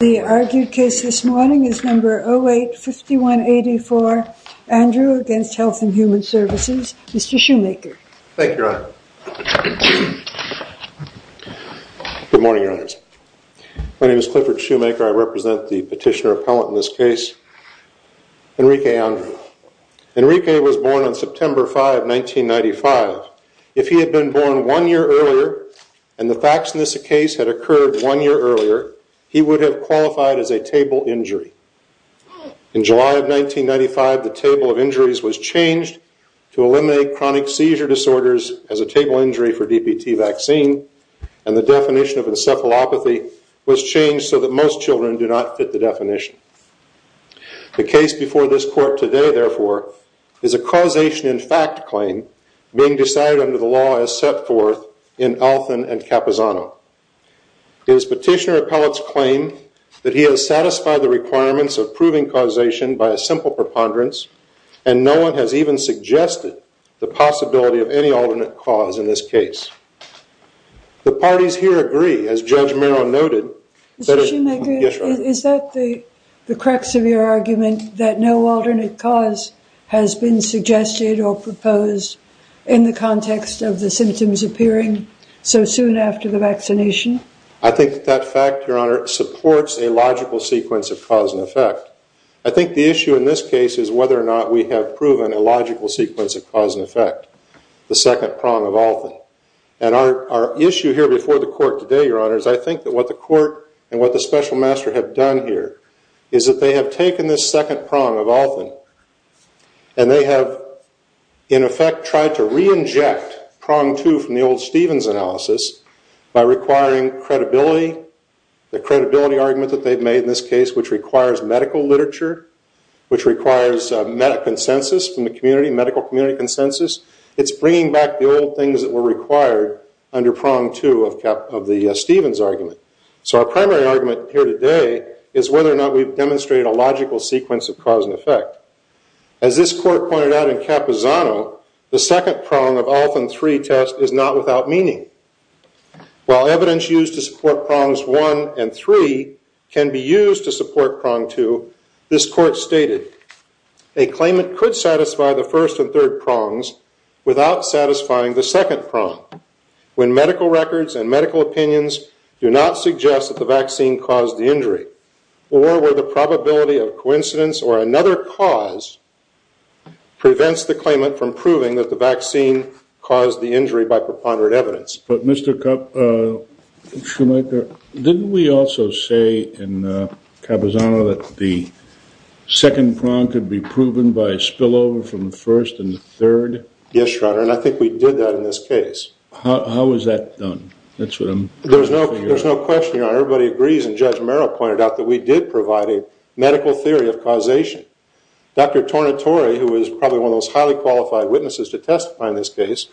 The argued case this morning is number 08-5184, Andrew against Health and Human Services. Mr. Shoemaker. Thank you, Your Honor. Good morning, Your Honors. My name is Clifford Shoemaker. I represent the petitioner appellant in this case, Enrique Andrew. Enrique was born on September 5, 1995. If he had been born one year earlier, and the facts in this case had occurred one year earlier, he would have qualified as a table injury. In July of 1995, the table of injuries was changed to eliminate chronic seizure disorders as a table injury for DPT vaccine, and the definition of encephalopathy was changed so that most children do not fit the definition. The case before this court today, therefore, is a causation in fact claim being decided under the law as set forth in Althan and Capisano. It is petitioner appellant's claim that he has satisfied the requirements of proving causation by a simple preponderance, and no one has even suggested the possibility of any alternate cause in this case. The parties here agree, as Judge Merrill noted. Mr. Shoemaker, is that the correct severe argument that no alternate cause has been I think that fact, Your Honor, supports a logical sequence of cause and effect. I think the issue in this case is whether or not we have proven a logical sequence of cause and effect, the second prong of Althan. And our issue here before the court today, Your Honor, is I think that what the court and what the special master have done here is that they have taken this second prong of Althan, and they have, in effect, tried to re-inject prong two from the old Stevens analysis by requiring credibility, the credibility argument that they've made in this case, which requires medical literature, which requires consensus from the community, medical community consensus. It's bringing back the old things that were required under prong two of the Stevens argument. So our primary argument here today is whether or not we've demonstrated a logical sequence of cause and effect. As this court pointed out in Capisano, the second prong of Althan 3 test is not without meaning. While evidence used to support prongs one and three can be used to support prong two, this court stated, a claimant could satisfy the first and third prongs without satisfying the second prong when medical records and medical opinions do not suggest that the vaccine caused the injury or where the probability of coincidence or another cause prevents the caused the injury by preponderant evidence. But Mr. Schumacher, didn't we also say in Capisano that the second prong could be proven by a spillover from the first and the third? Yes, Your Honor. And I think we did that in this case. How was that done? That's what I'm trying to figure out. There's no question, Your Honor. Everybody agrees. And Judge Merrill pointed out that we did provide a medical theory of causation. Dr. Tornatore, who was probably one of those highly qualified witnesses to testify in this case,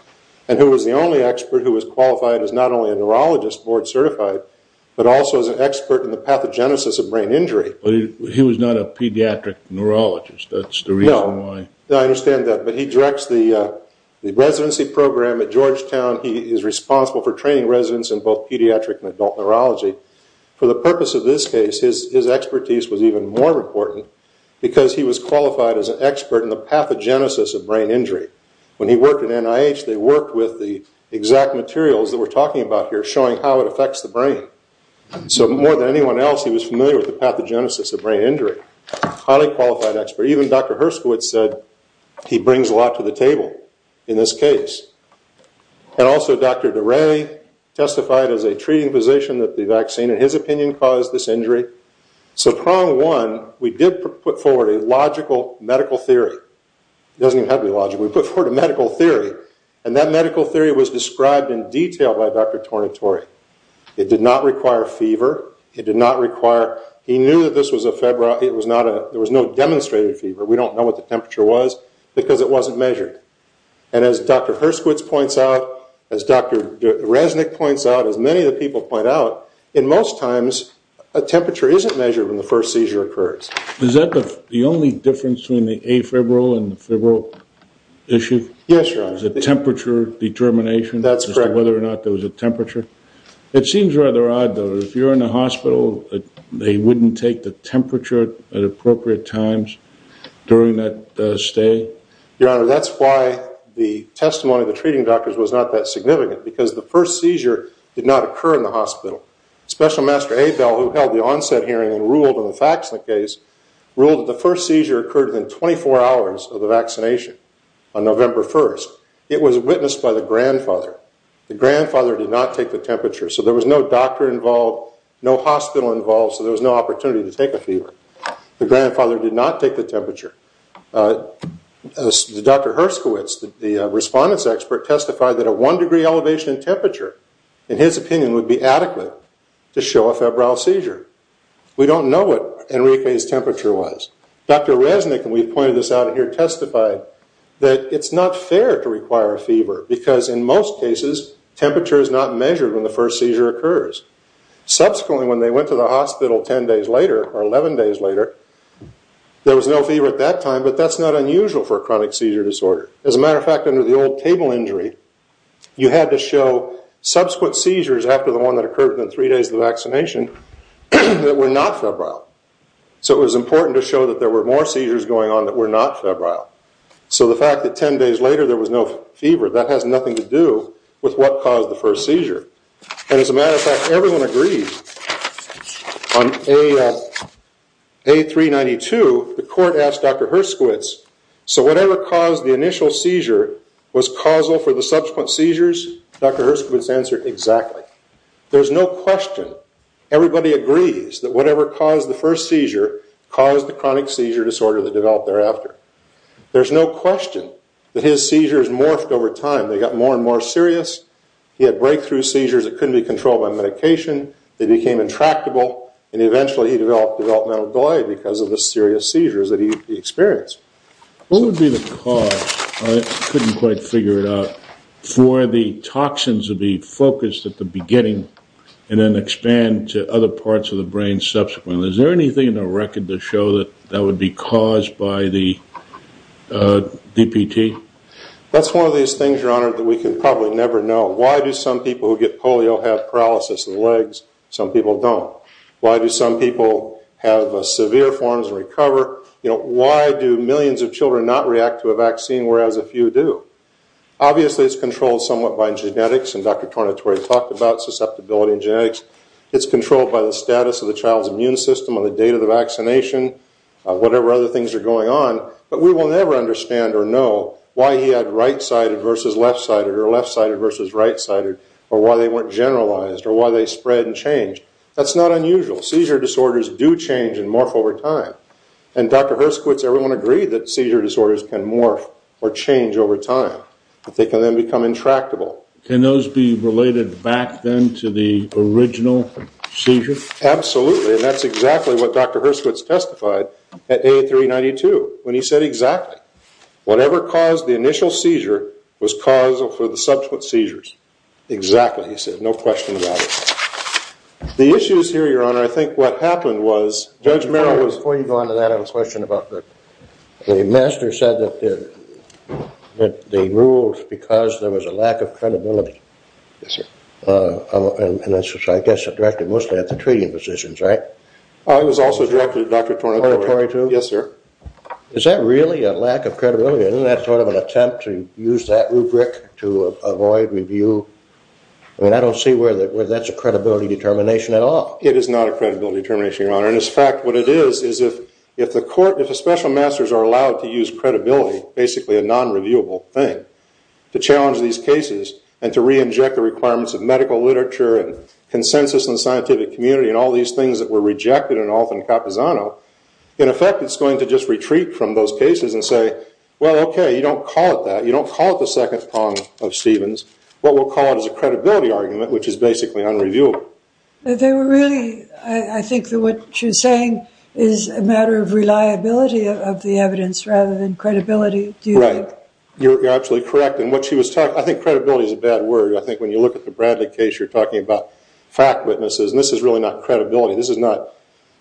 and who was the only expert who was qualified as not only a neurologist board certified, but also as an expert in the pathogenesis of brain injury. He was not a pediatric neurologist. That's the reason why. No, I understand that. But he directs the residency program at Georgetown. He is responsible for training residents in both pediatric and adult neurology. For the purpose of this case, his expertise was even more important because he was qualified as an expert in the pathogenesis of brain injury. When he worked at NIH, they worked with the exact materials that we're talking about here, showing how it affects the brain. So more than anyone else, he was familiar with the pathogenesis of brain injury. Highly qualified expert. Even Dr. Herskowitz said he brings a lot to the table in this case. And also Dr. DeRay testified as a treating physician that the vaccine, in his opinion, caused this injury. So prong one, we did put forward a logical medical theory. It doesn't even have to be logical. We put forward a medical theory. And that medical theory was described in detail by Dr. Tornatore. It did not require fever. It did not require... He knew that this was a febrile... It was not a... There was no demonstrated fever. We don't know what the temperature was because it wasn't measured. And as Dr. Herskowitz points out, as Dr. Dreznik points out, as many of the people point out, in most times, a temperature isn't measured when the first seizure occurs. Is that the only difference between the afebrile and the febrile issue? Yes, Your Honor. Is it temperature determination? That's correct. As to whether or not there was a temperature? It seems rather odd, though. If you're in a hospital, they wouldn't take the temperature at appropriate times during that stay? Your Honor, that's why the testimony of the treating doctors was not that significant. Because the first seizure did not occur in the hospital. Special Master Abel, who held the onset hearing and ruled on the facts of the case, ruled that the first seizure occurred within 24 hours of the vaccination on November 1st. It was witnessed by the grandfather. The grandfather did not take the temperature. So there was no doctor involved, no hospital involved. So there was no opportunity to take a fever. The grandfather did not take the temperature. Dr. Herskowitz, the respondent's expert, testified that a one degree elevation in temperature, in his opinion, would be adequate to show a febrile seizure. We don't know what Enrique's temperature was. Dr. Resnick, and we've pointed this out here, testified that it's not fair to require a fever. Because in most cases, temperature is not measured when the first seizure occurs. Subsequently, when they went to the hospital 10 days later, or 11 days later, there was no fever at that time. But that's not unusual for a chronic seizure disorder. As a matter of fact, under the old table injury, you had to show subsequent seizures after the one that occurred within three days of the vaccination that were not febrile. So it was important to show that there were more seizures going on that were not febrile. So the fact that 10 days later there was no fever, that has nothing to do with what caused the first seizure. And as a matter of fact, everyone agrees. On A392, the court asked Dr. Herskowitz, so whatever caused the initial seizure was causal for the subsequent seizures? Dr. Herskowitz answered, exactly. There's no question. Everybody agrees that whatever caused the first seizure caused the chronic seizure disorder that developed thereafter. There's no question that his seizures morphed over time. They got more and more serious. He had breakthrough seizures that couldn't be controlled by medication. They became intractable. And eventually he developed developmental delay because of the serious seizures that he experienced. What would be the cause? I couldn't quite figure it out. For the toxins to be focused at the beginning and then expand to other parts of the brain subsequently, is there anything in the record to show that that would be caused by the DPT? That's one of these things, Your Honor, that we can probably never know. Why do some people who get polio have paralysis in the legs? Some people don't. Why do some people have severe forms and recover? Why do millions of children not react to a vaccine whereas a few do? Obviously it's controlled somewhat by genetics, and Dr. Tornatore talked about susceptibility in genetics. It's controlled by the status of the child's immune system on the date of the vaccination, whatever other things are going on. But we will never understand or know why he had right-sided versus left-sided or left-sided versus right-sided, or why they weren't generalized, or why they spread and changed. That's not unusual. Seizure disorders do change and morph over time. And Dr. Herskowitz, everyone agreed that seizure disorders can morph or change over time, but they can then become intractable. Can those be related back then to the original seizure? Absolutely, and that's exactly what Dr. Herskowitz testified at A392, when he said exactly, whatever caused the initial seizure was causal for the subsequent seizures. Exactly, he said. No question about it. The issues here, Your Honor, I think what happened was, Judge Merrill was... Before you go on to that, I have a question about the... The master said that they ruled because there was a lack of credibility. Yes, sir. And that's, I guess, directed mostly at the treating physicians, right? It was also directed at Dr. Tornatore, too. Yes, sir. Is that really a lack of credibility? Isn't that sort of an attempt to use that rubric to avoid review? I mean, I don't see where that's a credibility determination at all. It is not a credibility determination, Your Honor. And in fact, what it is, is if the court, if the special masters are allowed to use credibility, basically a non-reviewable thing, to challenge these cases and to re-inject the requirements of medical literature and consensus in the scientific community and all these things that were rejected in Alton Capisano, in effect, it's going to just retreat from those cases and say, well, okay, you don't call it that. You don't call it the second prong of Stevens. What we'll call it is a credibility argument, which is basically unreviewable. They were really, I think that what she's saying is a matter of reliability of the evidence rather than credibility, do you think? Right. You're absolutely correct. And what she was talking, I think credibility is a bad word. I think when you look at the Bradley case, you're talking about fact witnesses. And this is really not credibility. This is not,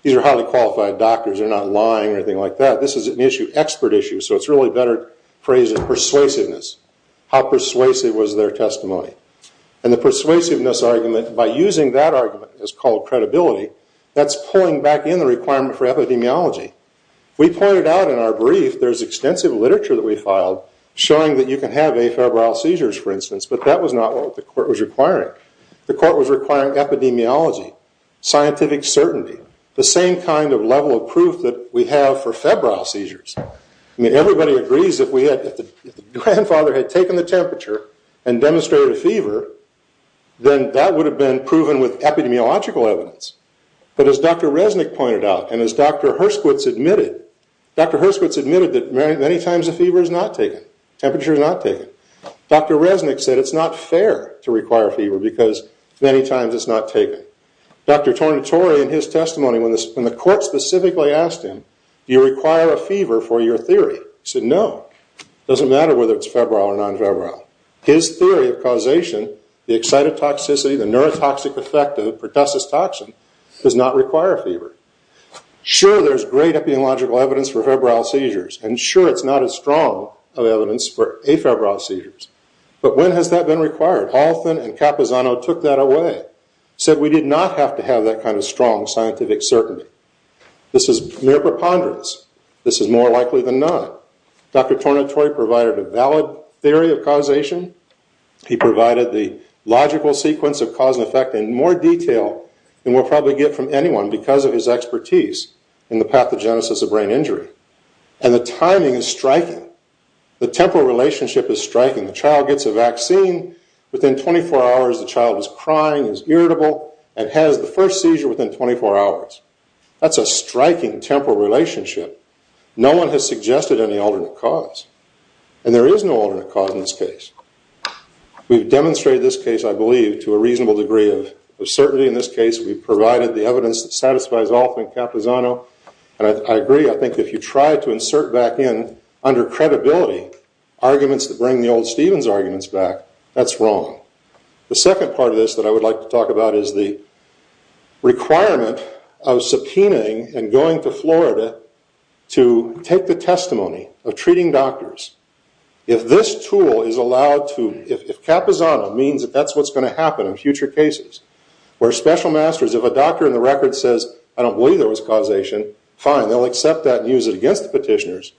these are highly qualified doctors. They're not lying or anything like that. This is an issue, expert issue. So it's really better phrased as persuasiveness. How persuasive was their testimony? And the persuasiveness argument, by using that argument as called credibility, that's pulling back in the requirement for epidemiology. We pointed out in our brief, there's extensive literature that we filed showing that you can have afebrile seizures, for instance, but that was not what the court was requiring. The court was requiring epidemiology, scientific certainty, the same kind of level of proof that we have for febrile seizures. I mean, everybody agrees that if the grandfather had taken the temperature and demonstrated a fever, then that would have been proven with epidemiological evidence. But as Dr. Resnick pointed out, and as Dr. Herskowitz admitted, Dr. Herskowitz admitted that many times a fever is not taken. Temperature is not taken. Dr. Resnick said it's not fair to require fever because many times it's not taken. Dr. Tornatore, in his testimony, when the court specifically asked him, do you require a fever for your theory? He said, no, it doesn't matter whether it's febrile or non-febrile. His theory of causation, the excitotoxicity, the neurotoxic effect of pertussis toxin, does not require a fever. Sure, there's great epidemiological evidence for febrile seizures, and sure, it's not as strong of evidence for afebrile seizures, but when has that been required? Halthon and Capozano took that away, said we did not have to have that kind of strong scientific certainty. This is mere preponderance. This is more likely than not. Dr. Tornatore provided a valid theory of causation. He provided the logical sequence of cause and effect in more detail than we'll probably get from anyone because of his expertise in the pathogenesis of brain injury. And the timing is striking. The temporal relationship is striking. The child gets a vaccine. Within 24 hours, the child is crying, is irritable, and has the first seizure within 24 hours. That's a striking temporal relationship. No one has suggested any alternate cause, and there is no alternate cause in this case. We've demonstrated this case, I believe, to a reasonable degree of certainty. In this case, we provided the evidence that satisfies Halthon and Capozano, and I agree. I think if you try to insert back in, under credibility, arguments that bring the old Stevens arguments back, that's wrong. The second part of this that I would like to talk about is the requirement of subpoenaing and going to Florida to take the testimony of treating doctors. If this tool is allowed to... If Capozano means that that's what's going to happen in future cases, where special masters, if a doctor in the record says, I don't believe there was causation, fine, they'll accept that and use it against the petitioners.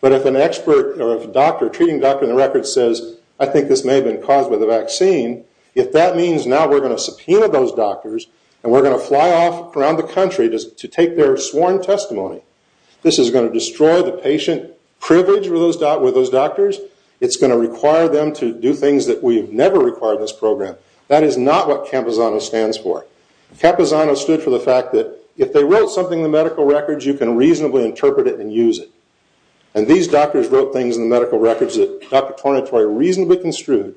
But if an expert or a doctor, a treating doctor in the record says, I think this may have been caused by the vaccine, if that means now we're going to subpoena those doctors and we're going to fly off around the country to take their sworn testimony, this is going to destroy the patient privilege with those doctors. It's going to require them to do things that we've never required in this program. That is not what Capozano stands for. Capozano stood for the fact that if they wrote something in the medical records, you can reasonably interpret it and use it. And these doctors wrote things in the medical records that Dr. Tornatore reasonably construed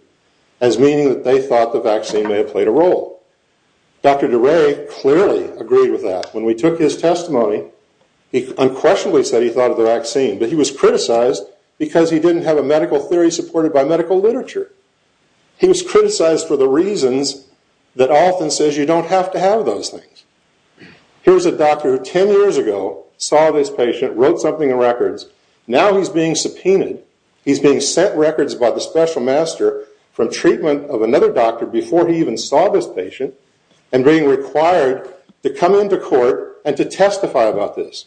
as meaning that they thought the vaccine may have played a role. Dr. DeRay clearly agreed with that. When we took his testimony, he unquestionably said he thought of the vaccine, but he was criticized because he didn't have a medical theory supported by medical literature. He was criticized for the reasons that often says you don't have to have those things. Here's a doctor who 10 years ago saw this patient, wrote something in records. Now he's being subpoenaed. He's being set records by the special master from treatment of another doctor before he even saw this patient and being required to come into court and to testify about this.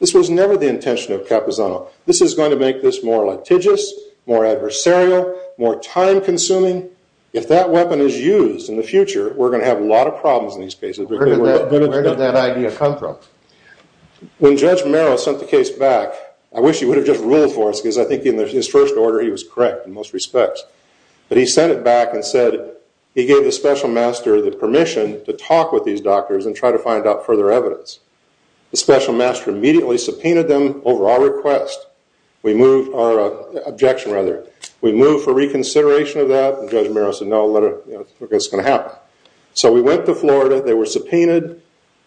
This was never the intention of Capozano. This is going to make this more litigious, more adversarial, more time consuming. If that weapon is used in the future, we're going to have a lot of problems in these cases. Where did that idea come from? When Judge Merrill sent the case back, I wish he would have just ruled for us because I think in his first order, he was correct in most respects. But he sent it back and said he gave the special master the permission to talk with these doctors and try to find out further evidence. The special master immediately subpoenaed them over our request. We moved our objection rather. We moved for reconsideration of that. Judge Merrill said no, it's going to happen. So we went to Florida. They were subpoenaed.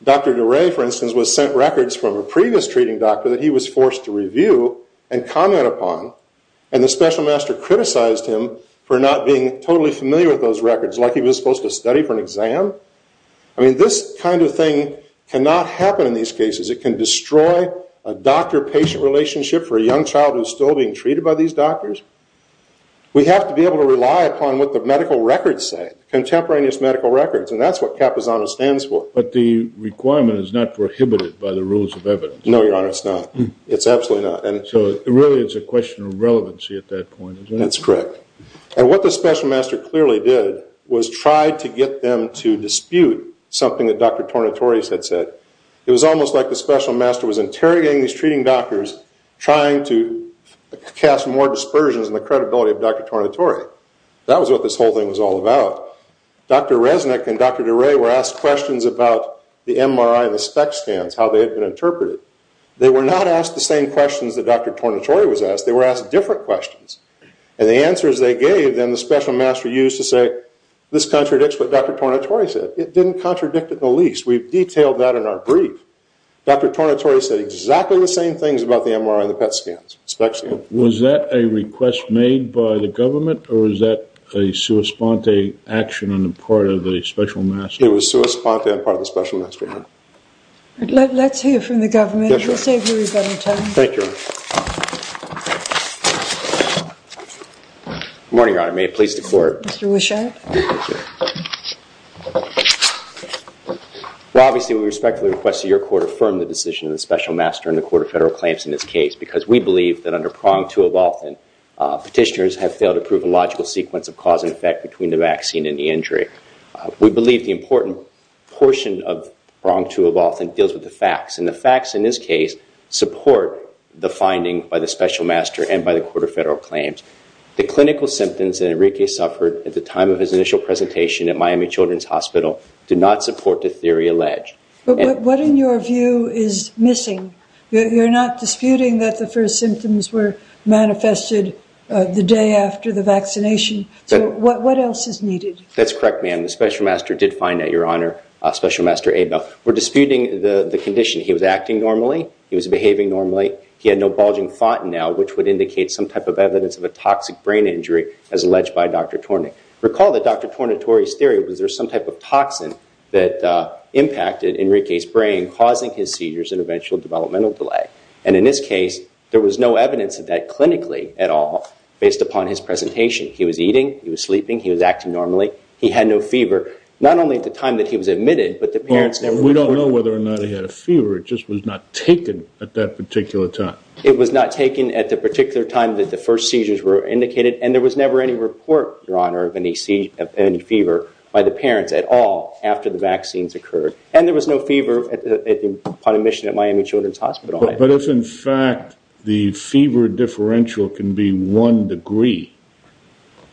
Dr. DeRay, for instance, was sent records from a previous treating doctor that he was forced to review and comment upon. And the special master criticized him for not being totally familiar with those records, like he was supposed to study for an exam. I mean, this kind of thing cannot happen in these cases. It can destroy a doctor-patient relationship for a young child who's still being treated by these doctors. We have to be able to rely upon what the medical records say, contemporaneous medical records. And that's what Capozano stands for. But the requirement is not prohibited by the rules of evidence. No, Your Honor, it's not. It's absolutely not. So it really is a question of relevancy at that point, isn't it? That's correct. And what the special master clearly did was try to get them to dispute something that Dr. Tornatore had said. It was almost like the special master was interrogating these treating doctors, trying to cast more dispersions on the credibility of Dr. Tornatore. That was what this whole thing was all about. Dr. Resnick and Dr. DeRay were asked questions about the MRI and the spec scans, how they had been interpreted. They were not asked the same questions that Dr. Tornatore was asked. They were asked different questions. And the answers they gave, then, the special master used to say, this contradicts what Dr. Tornatore said. It didn't contradict it the least. We've detailed that in our brief. Dr. Tornatore said exactly the same things about the MRI and the spec scans. Was that a request made by the government, or was that a sua sponte action on the part of the special master? It was sua sponte on the part of the special master, Your Honor. Let's hear from the government. We'll save you a little time. Thank you, Your Honor. Good morning, Your Honor. May it please the court. Mr. Wishart. Well, obviously, we respectfully request that your court affirm the decision of the special master and the court of federal claims in this case, because we believe that under pronged too often, petitioners have failed to prove a logical sequence of cause and effect between the vaccine and the injury. We believe the important portion of pronged too often deals with the facts, and the facts in this case support the finding by the special master and by the court of federal claims. The clinical symptoms that Enrique suffered at the time of his initial presentation at Miami Children's Hospital do not support the theory alleged. What, in your view, is missing? You're not disputing that the first symptoms were manifested the day after the vaccination. So what else is needed? That's correct, ma'am. The special master did find that, Your Honor, special master Abel. We're disputing the condition. He was acting normally. He was behaving normally. He had no bulging fontanelle, which would indicate some type of evidence of a toxic brain injury, as alleged by Dr. Tornick. Recall that Dr. Tornitore's theory was there some type of toxin that impacted Enrique's brain, causing his seizures and eventual developmental delay. And in this case, there was no evidence of that clinically at all, based upon his presentation. He was eating. He was sleeping. He was acting normally. He had no fever. Not only at the time that he was admitted, but the parents never- We don't know whether or not he had a fever. It just was not taken at that particular time. It was not taken at the particular time that the first seizures were indicated. And there was never any report, Your Honor, of any fever by the parents at all after the vaccines occurred. And there was no fever upon admission at Miami Children's Hospital. But if, in fact, the fever differential can be one degree,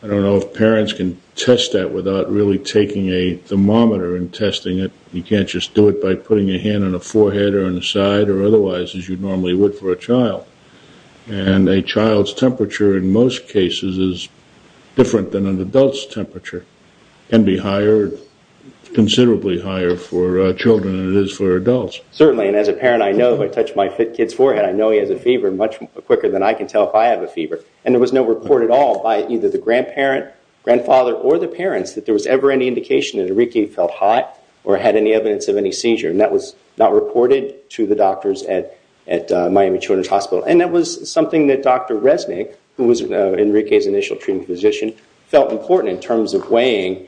I don't know if parents can test that without really taking a thermometer and testing it. You can't just do it by putting your hand on a forehead or on the side or otherwise, as you normally would for a child. And a child's temperature, in most cases, is different than an adult's temperature. It can be higher, considerably higher, for children than it is for adults. Certainly. And as a parent, I know if I touch my kid's forehead, I know he has a fever much quicker than I can tell if I have a fever. And there was no report at all by either the grandparent, grandfather, or the parents that there was ever any indication that Enrique felt hot or had any evidence of any seizure. And that was not reported to the doctors at Miami Children's Hospital. And that was something that Dr. Resnick, who was Enrique's initial treating physician, felt important in terms of weighing,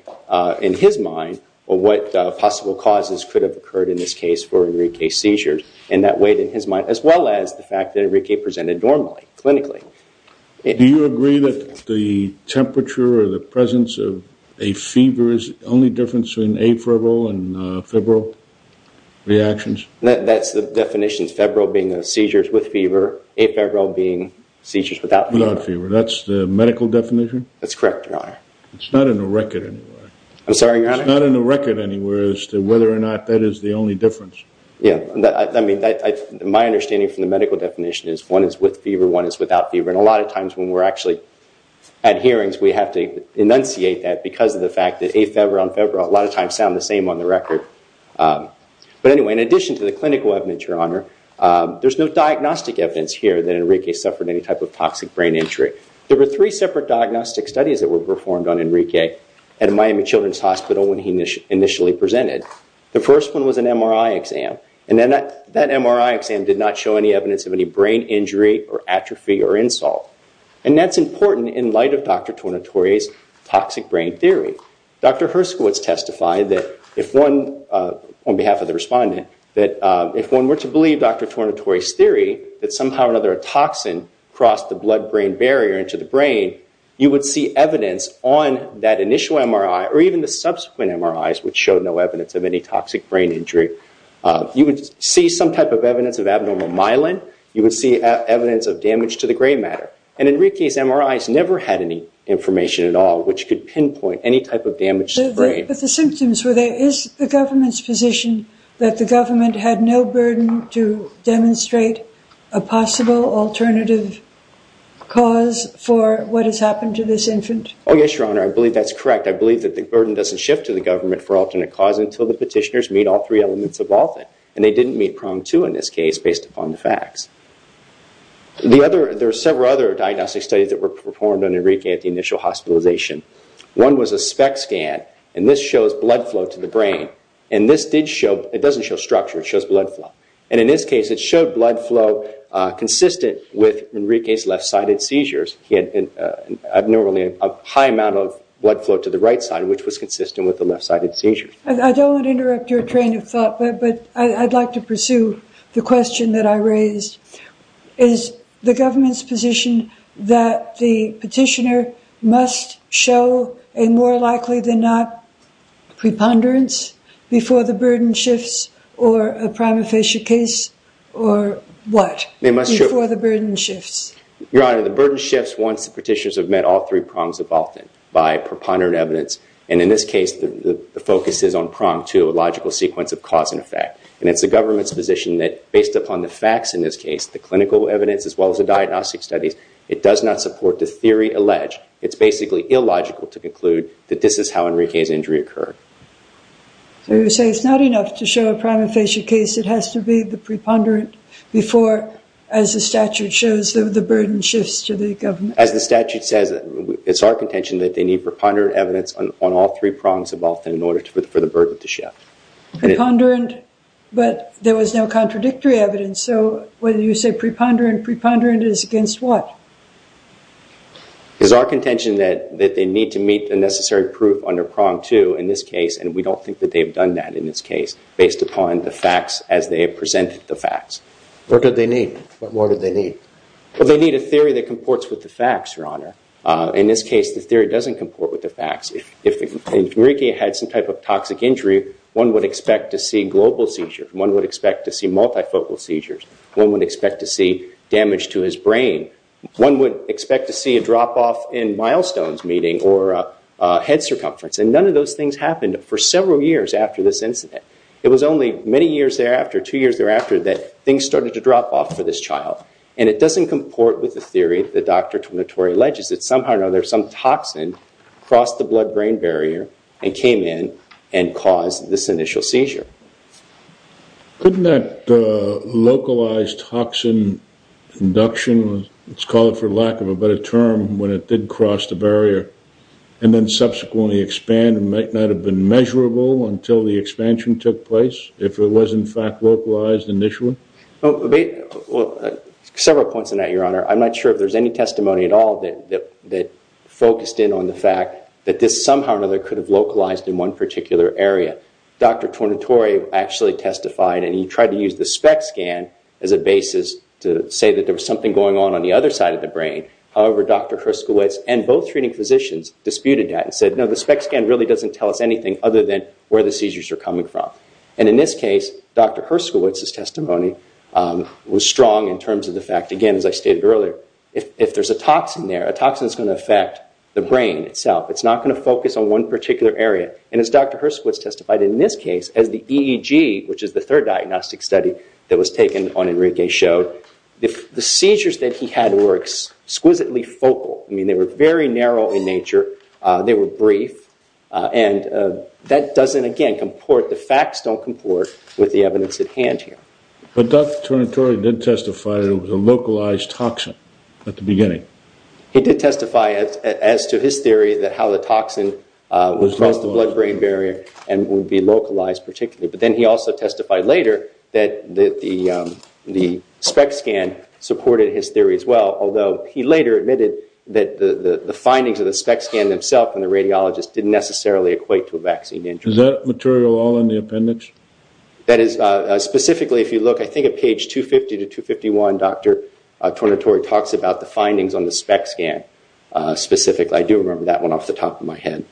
in his mind, what possible causes could have occurred in this case for Enrique's seizures. And that weighed in his mind, as well as the fact that Enrique presented normally, clinically. Do you agree that the temperature or the presence of a fever is the only difference in afebrile and febrile reactions? That's the definition, febrile being seizures with fever, afebrile being seizures without fever. That's the medical definition? That's correct, Your Honor. It's not in the record, anyway. I'm sorry, Your Honor? It's not in the record, anyway, as to whether or not that is the only difference. Yeah. My understanding from the medical definition is one is with fever, one is without fever. And a lot of times when we're actually at hearings, we have to enunciate that because of the fact that afebrile and febrile a lot of times sound the same on the record. But anyway, in addition to the clinical evidence, Your Honor, there's no diagnostic evidence here that Enrique suffered any type of toxic brain injury. There were three separate diagnostic studies that were performed on Enrique at Miami Children's Hospital when he initially presented. The first one was an MRI exam. And that MRI exam did not show any evidence of any brain injury or atrophy or insult. And that's important in light of Dr. Tornatore's toxic brain theory. Dr. Herskowitz testified that if one, on behalf of the respondent, that if one were to believe Dr. Tornatore's theory that somehow or another a toxin crossed the blood-brain barrier into the brain, you would see evidence on that initial MRI, or even the subsequent MRIs, which showed no evidence of any toxic brain injury. You would see some type of evidence of abnormal myelin. You would see evidence of damage to the gray matter. And Enrique's MRIs never had any information at all which could pinpoint any type of damage. But the symptoms were there. Is the government's position that the government had no burden to demonstrate a possible alternative cause for what has happened to this infant? Oh, yes, Your Honor. I believe that's correct. I believe that the burden doesn't shift to the government for alternate cause until the petitioners meet all three elements of all that. And they didn't meet prong two in this case based upon the facts. There are several other diagnostic studies that were performed on Enrique at the initial hospitalization. One was a SPECT scan. And this shows blood flow to the brain. And this did show, it doesn't show structure. It shows blood flow. And in this case, it showed blood flow consistent with Enrique's left-sided seizures. He had normally a high amount of blood flow to the right side, which was consistent with the left-sided seizures. I don't want to interrupt your train of thought. But I'd like to pursue the question that I raised. Is the government's position that the petitioner must show a more likely than not preponderance before the burden shifts or a prima facie case or what? They must show. Before the burden shifts. Your Honor, the burden shifts once the petitioners have met all three prongs of all that by preponderant evidence. And in this case, the focus is on prong two, a logical sequence of cause and effect. And it's the government's position that based upon the facts in this case, the clinical evidence, as well as the diagnostic studies, it does not support the theory alleged. It's basically illogical to conclude that this is how Enrique's injury occurred. So you're saying it's not enough to show a prima facie case. It has to be the preponderant before, as the statute shows, the burden shifts to the government. As the statute says, it's our contention that they need preponderant evidence on all three prongs of all in order for the burden to shift. Preponderant, but there was no contradictory evidence. So whether you say preponderant, preponderant is against what? It's our contention that they need to meet the necessary proof under prong two in this case. And we don't think that they've done that in this case, based upon the facts as they have presented the facts. What did they need? What more did they need? Well, they need a theory that comports with the facts, Your Honor. In this case, the theory doesn't comport with the facts. If Enrique had some type of toxic injury, one would expect to see global seizures. One would expect to see multifocal seizures. One would expect to see damage to his brain. One would expect to see a drop off in milestones meeting or head circumference. And none of those things happened for several years after this incident. It was only many years thereafter, two years thereafter, that things started to drop off for this child. And it doesn't comport with the theory that Dr. Tonatori alleges. That somehow or another, some toxin crossed the blood-brain barrier and came in and caused this initial seizure. Couldn't that localized toxin induction, let's call it for lack of a better term, when it did cross the barrier and then subsequently expand, might not have been measurable until the expansion took place? If it was in fact localized initially? Several points on that, Your Honor. I'm not sure if there's any testimony at all that focused in on the fact that this somehow or another could have localized in one particular area. Dr. Tonatori actually testified and he tried to use the SPECT scan as a basis to say that there was something going on on the other side of the brain. However, Dr. Herskowitz and both treating physicians disputed that and said, no, the SPECT scan really doesn't tell us anything other than where the seizures are coming from. And in this case, Dr. Herskowitz's testimony was strong in terms of the fact, again, as I stated earlier, if there's a toxin there, a toxin is going to affect the brain itself. It's not going to focus on one particular area. And as Dr. Herskowitz testified in this case as the EEG, which is the third diagnostic study that was taken on Enrique showed, the seizures that he had were exquisitely focal. I mean, they were very narrow in nature. They were brief. And that doesn't, again, comport, the facts don't comport with the evidence at hand here. But Dr. Tonatori did testify that it was a localized toxin at the beginning. He did testify as to his theory that how the toxin was close to blood-brain barrier and would be localized particularly. But then he also testified later that the SPECT scan supported his theory as well, although he later admitted that the findings of the SPECT scan himself and the radiologist didn't necessarily equate to a vaccine interest. Is that material all in the appendix? That is. Specifically, if you look, I think at page 250 to 251, Dr. Tonatori talks about the findings on the SPECT scan specifically. I do remember that one off the top of my head.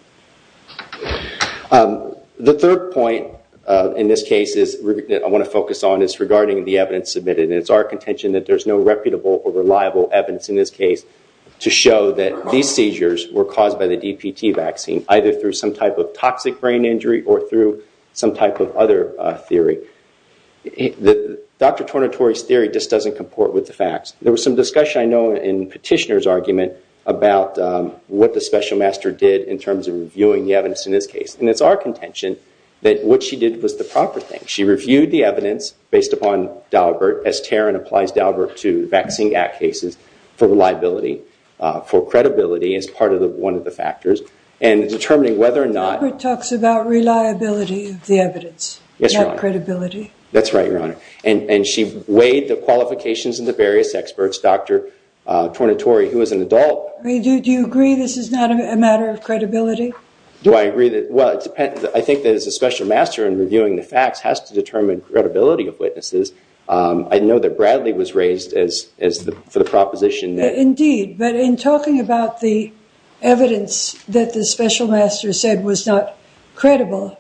The third point in this case that I want to focus on is regarding the evidence submitted. It's our contention that there's no reputable or reliable evidence in this case to show that these seizures were caused by the DPT vaccine, either through some type of toxic brain injury or through some type of other theory. Dr. Tonatori's theory just doesn't comport with the facts. There was some discussion, I know, in Petitioner's argument about what the special master did in terms of reviewing the evidence in this case. And it's our contention that what she did was the proper thing. She reviewed the evidence based upon Daubert, as Tarrant applies Daubert to the Vaccine Act cases for reliability, for credibility as part of one of the factors. And determining whether or not- Daubert talks about reliability of the evidence, not credibility. That's right, Your Honor. And she weighed the qualifications of the various experts, Dr. Tonatori, who was an adult. Do you agree this is not a matter of credibility? Do I agree that- well, it depends. I think that as a special master, in reviewing the facts, has to determine credibility of witnesses. I know that Bradley was raised for the proposition that- Indeed. But in talking about the evidence that the special master said was not credible,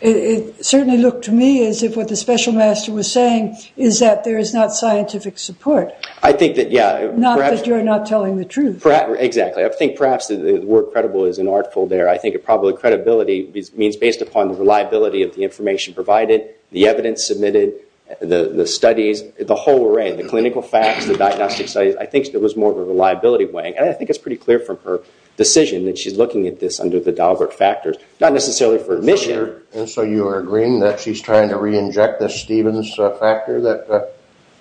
it certainly looked to me as if what the special master was saying is that there is not scientific support. I think that, yeah, perhaps- Not that you're not telling the truth. Exactly. I think perhaps the word credible is an artful there. Probably credibility means based upon the reliability of the information provided, the evidence submitted, the studies, the whole array. The clinical facts, the diagnostic studies. I think it was more of a reliability weighing. And I think it's pretty clear from her decision that she's looking at this under the Daubert factors. Not necessarily for admission- And so you are agreeing that she's trying to re-inject the Stevens factor?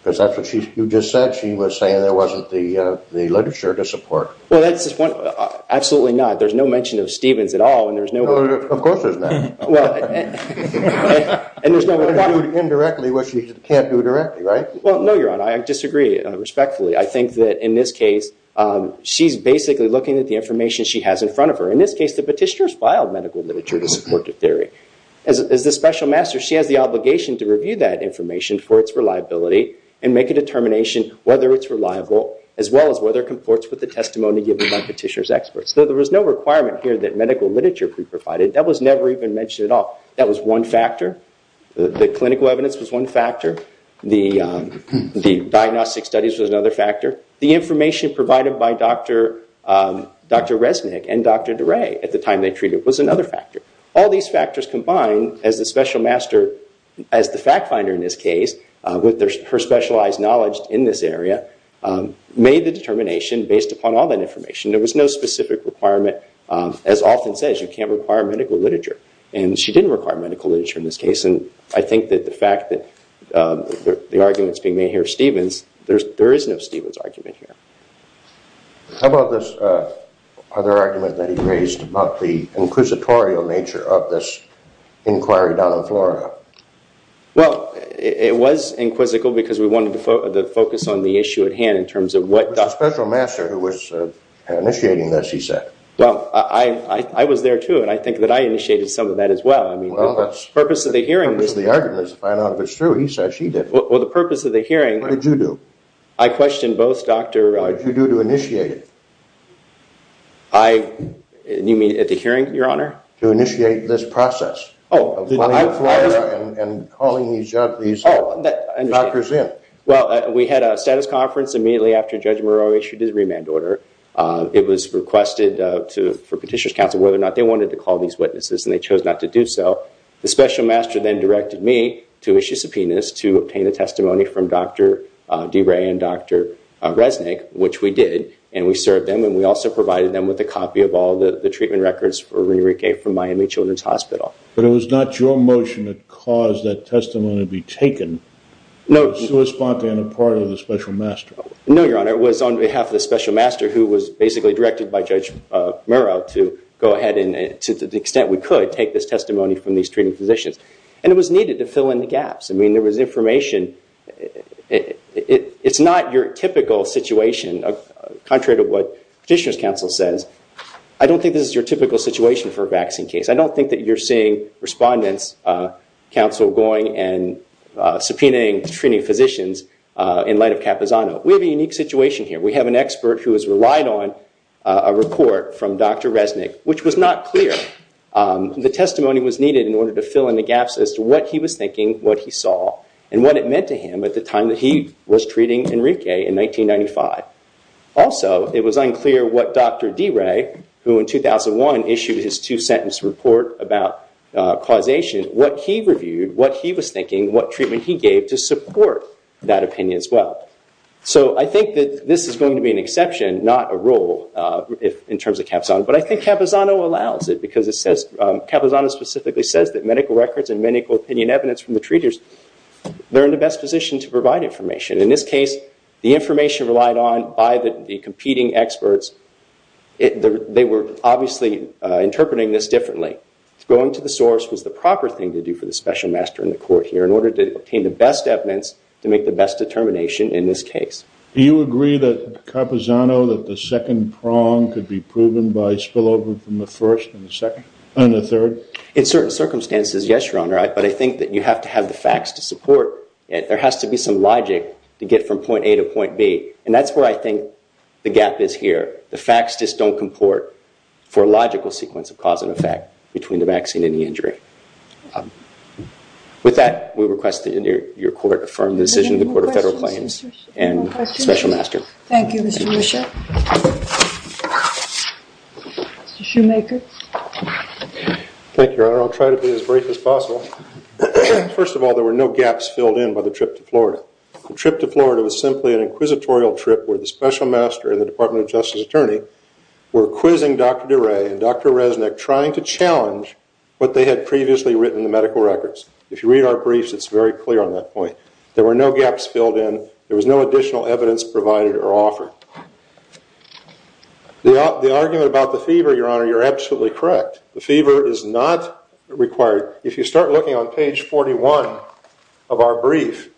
Because that's what you just said. She was saying there wasn't the literature to support. Well, that's the point. Absolutely not. There's no mention of Stevens at all. And there's no- Of course there's not. And there's no way to talk- Indirectly what she can't do directly, right? Well, no, Your Honor. I disagree respectfully. I think that in this case, she's basically looking at the information she has in front of her. In this case, the petitioner has filed medical literature to support the theory. As the special master, she has the obligation to review that information for its reliability and make a determination whether it's reliable, as well as whether it comports with the testimony given by the petitioner's experts. There was no requirement here that medical literature be provided. That was never even mentioned at all. That was one factor. The clinical evidence was one factor. The diagnostic studies was another factor. The information provided by Dr. Resnick and Dr. DeRay at the time they treated was another factor. All these factors combined as the special master, as the fact finder in this case, with her specialized knowledge in this area, made the determination based upon all that information. There was no specific requirement. As often says, you can't require medical literature. And she didn't require medical literature in this case. And I think that the fact that the argument's being made here, Stephen's, there is no Stephen's argument here. How about this other argument that he raised about the inquisitorial nature of this inquiry down in Florida? Well, it was inquisitical because we wanted to focus on the issue at hand in terms of what- Special master who was initiating this, he said. Well, I was there too. And I think that I initiated some of that as well. I mean, the purpose of the hearing was- The purpose of the argument is to find out if it's true. He said she did. Well, the purpose of the hearing- What did you do? I questioned both Dr.- What did you do to initiate it? I, you mean at the hearing, your honor? To initiate this process. Oh. And calling these doctors in. Doctors in. Well, we had a status conference immediately after Judge Murrow issued his remand order. It was requested for petitioner's counsel whether or not they wanted to call these witnesses and they chose not to do so. The special master then directed me to issue subpoenas to obtain a testimony from Dr. DeRay and Dr. Resnick, which we did. And we served them. And we also provided them with a copy of all the treatment records for Ririque from Miami Children's Hospital. But it was not your motion that caused that testimony to be taken. No. It was a spontaneous part of the special master. No, your honor. It was on behalf of the special master who was basically directed by Judge Murrow to go ahead and, to the extent we could, take this testimony from these treating physicians. And it was needed to fill in the gaps. I mean, there was information. It's not your typical situation, contrary to what petitioner's counsel says. I don't think this is your typical situation for a vaccine case. I don't think that you're seeing respondents' counsel going and subpoenaing treating physicians in light of Capizano. We have a unique situation here. We have an expert who has relied on a report from Dr. Resnick, which was not clear. The testimony was needed in order to fill in the gaps as to what he was thinking, what he saw, and what it meant to him at the time that he was treating Enrique in 1995. Also, it was unclear what Dr. DeRay, who in 2001 issued his two-sentence report about causation, what he reviewed, what he was thinking, what treatment he gave to support that opinion as well. So I think that this is going to be an exception, not a rule in terms of Capizano. But I think Capizano allows it because it says, Capizano specifically says that medical records and medical opinion evidence from the treaters, they're in the best position to provide information. In this case, the information relied on by the competing experts. They were obviously interpreting this differently. Going to the source was the proper thing to do for the special master in the court here in order to obtain the best evidence to make the best determination in this case. Do you agree that Capizano, that the second prong could be proven by spillover from the first and the third? In certain circumstances, yes, Your Honor. But I think that you have to have the facts to support it. There has to be some logic to get from point A to point B. And that's where I think the gap is here. The facts just don't comport for a logical sequence of cause and effect between the vaccine and the injury. With that, we request that your court affirm the decision of the Court of Federal Claims and special master. Thank you, Mr. Bishop. Mr. Shoemaker. Thank you, Your Honor. I'll try to be as brief as possible. First of all, there were no gaps filled in by the trip to Florida. The trip to Florida was simply an inquisitorial trip where the special master and the Department of Justice attorney were quizzing Dr. DeRay and Dr. Resnick trying to challenge what they had previously written in the medical records. If you read our briefs, it's very clear on that point. There were no gaps filled in. There was no additional evidence provided or offered. The argument about the fever, Your Honor, you're absolutely correct. The fever is not required. If you start looking on page 41 of our brief,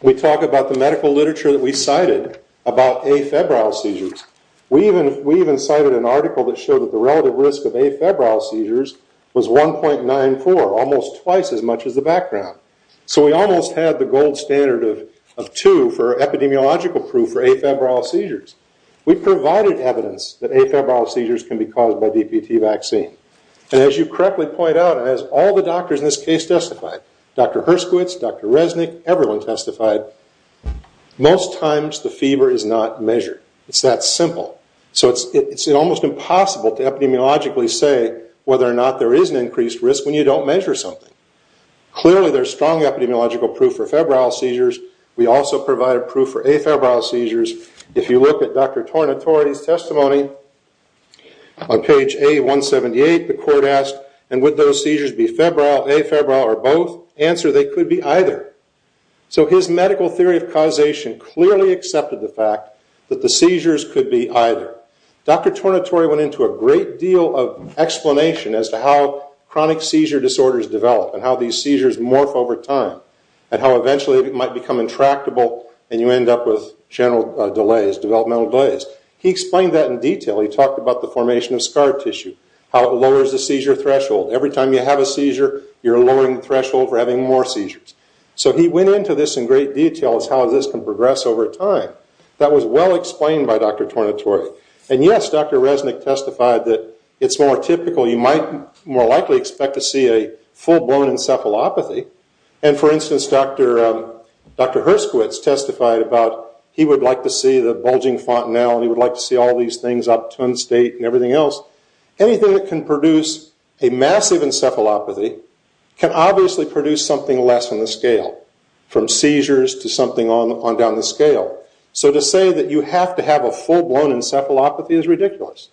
we talk about the medical literature that we cited about afebrile seizures. We even cited an article that showed that the relative risk of afebrile seizures was 1.94, almost twice as much as the background. So we almost had the gold standard of 2 for epidemiological proof for afebrile seizures. We provided evidence that afebrile seizures can be caused by DPT vaccine. And as you correctly point out, as all the doctors in this case testified, Dr. Herskowitz, Dr. Resnick, everyone testified, most times the fever is not measured. It's that simple. So it's almost impossible to epidemiologically say whether or not there is an increased risk when you don't measure something. Clearly there's strong epidemiological proof for febrile seizures. We also provided proof for afebrile seizures. If you look at Dr. Tornatore's testimony on page A178, the court asked, and would those seizures be febrile, afebrile, or both? Answer, they could be either. So his medical theory of causation clearly accepted the fact that the seizures could be either. Dr. Tornatore went into a great deal of explanation as to how chronic seizure disorders develop and how these seizures morph over time and how eventually it might become intractable and you end up with general delays, developmental delays. He explained that in detail. He talked about the formation of scar tissue, how it lowers the seizure threshold. Every time you have a seizure, you're lowering the threshold for having more seizures. So he went into this in great detail as how this can progress over time. That was well explained by Dr. Tornatore. And yes, Dr. Resnick testified that it's more typical. You might more likely expect to see a full-blown encephalopathy. And for instance, Dr. Herskowitz testified about he would like to see the bulging fontanelle. He would like to see all these things up to unstate and everything else. Anything that can produce a massive encephalopathy can obviously produce something less on the scale, from seizures to something on down the scale. So to say that you have to have a full-blown encephalopathy is ridiculous.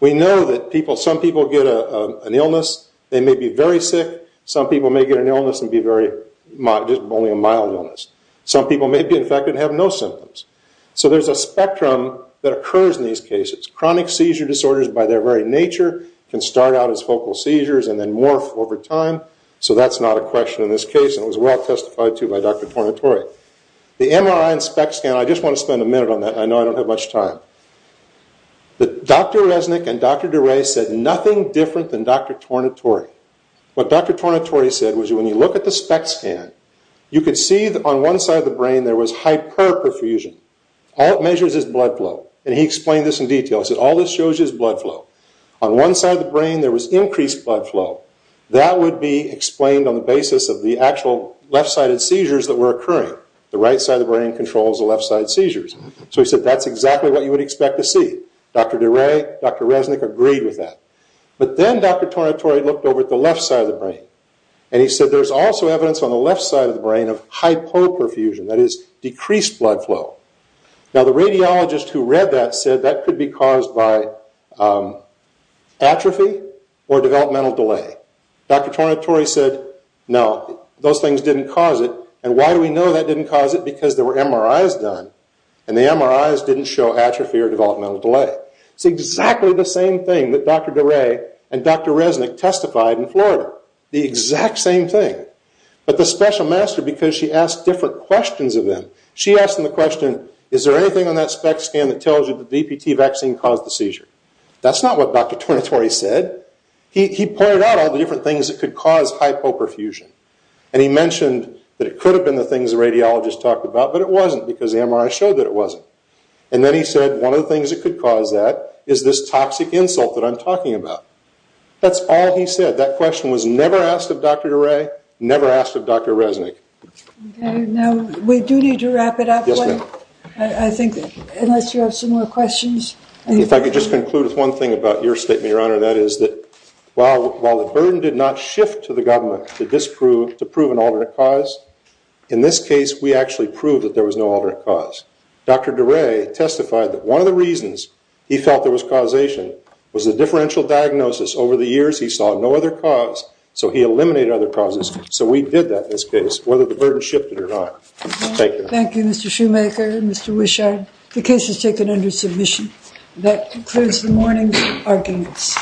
We know that some people get an illness. They may be very sick. Some people may get an illness and be very, just only a mild illness. Some people may be infected and have no symptoms. So there's a spectrum that occurs in these cases. Chronic seizure disorders by their very nature can start out as focal seizures and then morph over time. So that's not a question in this case, and it was well testified to by Dr. Tornatore. The MRI and SPECT scan, I just want to spend a minute on that. I know I don't have much time. But Dr. Resnick and Dr. DeRay said nothing different than Dr. Tornatore. What Dr. Tornatore said was when you look at the SPECT scan, you could see that on one side of the brain there was hyperperfusion. All it measures is blood flow. And he explained this in detail. He said all this shows you is blood flow. On one side of the brain there was increased blood flow. That would be explained on the basis of the actual left-sided seizures that were occurring. The right side of the brain controls the left-side seizures. So he said that's exactly what you would expect to see. Dr. DeRay, Dr. Resnick agreed with that. But then Dr. Tornatore looked over at the left side of the brain. And he said there's also evidence on the left side of the brain of hyperperfusion, that is decreased blood flow. Now the radiologist who read that said that could be caused by atrophy or developmental delay. Dr. Tornatore said no, those things didn't cause it. And why do we know that didn't cause it? Because there were MRIs done, and the MRIs didn't show atrophy or developmental delay. It's exactly the same thing that Dr. DeRay and Dr. Resnick testified in Florida. The exact same thing. But the special master, because she asked different questions of them, she asked them the question, is there anything on that SPECT scan that tells you the DPT vaccine caused the seizure? That's not what Dr. Tornatore said. He pointed out all the different things that could cause hyperperfusion. And he mentioned that it could have been the things the radiologist talked about, but it wasn't because the MRI showed that it wasn't. And then he said, one of the things that could cause that is this toxic insult that I'm talking about. That's all he said. That question was never asked of Dr. DeRay, never asked of Dr. Resnick. Now, we do need to wrap it up. I think, unless you have some more questions. If I could just conclude with one thing about your statement, Your Honor, that is that while the burden did not shift to the government to prove an alternate cause, in this case, we actually proved that there was no alternate cause. Dr. DeRay testified that one of the reasons he felt there was causation was the differential diagnosis. Over the years, he saw no other cause, so he eliminated other causes. So we did that in this case, whether the burden shifted or not. Thank you, Mr. Shoemaker, Mr. Wishart. The case is taken under submission. That concludes the morning arguments.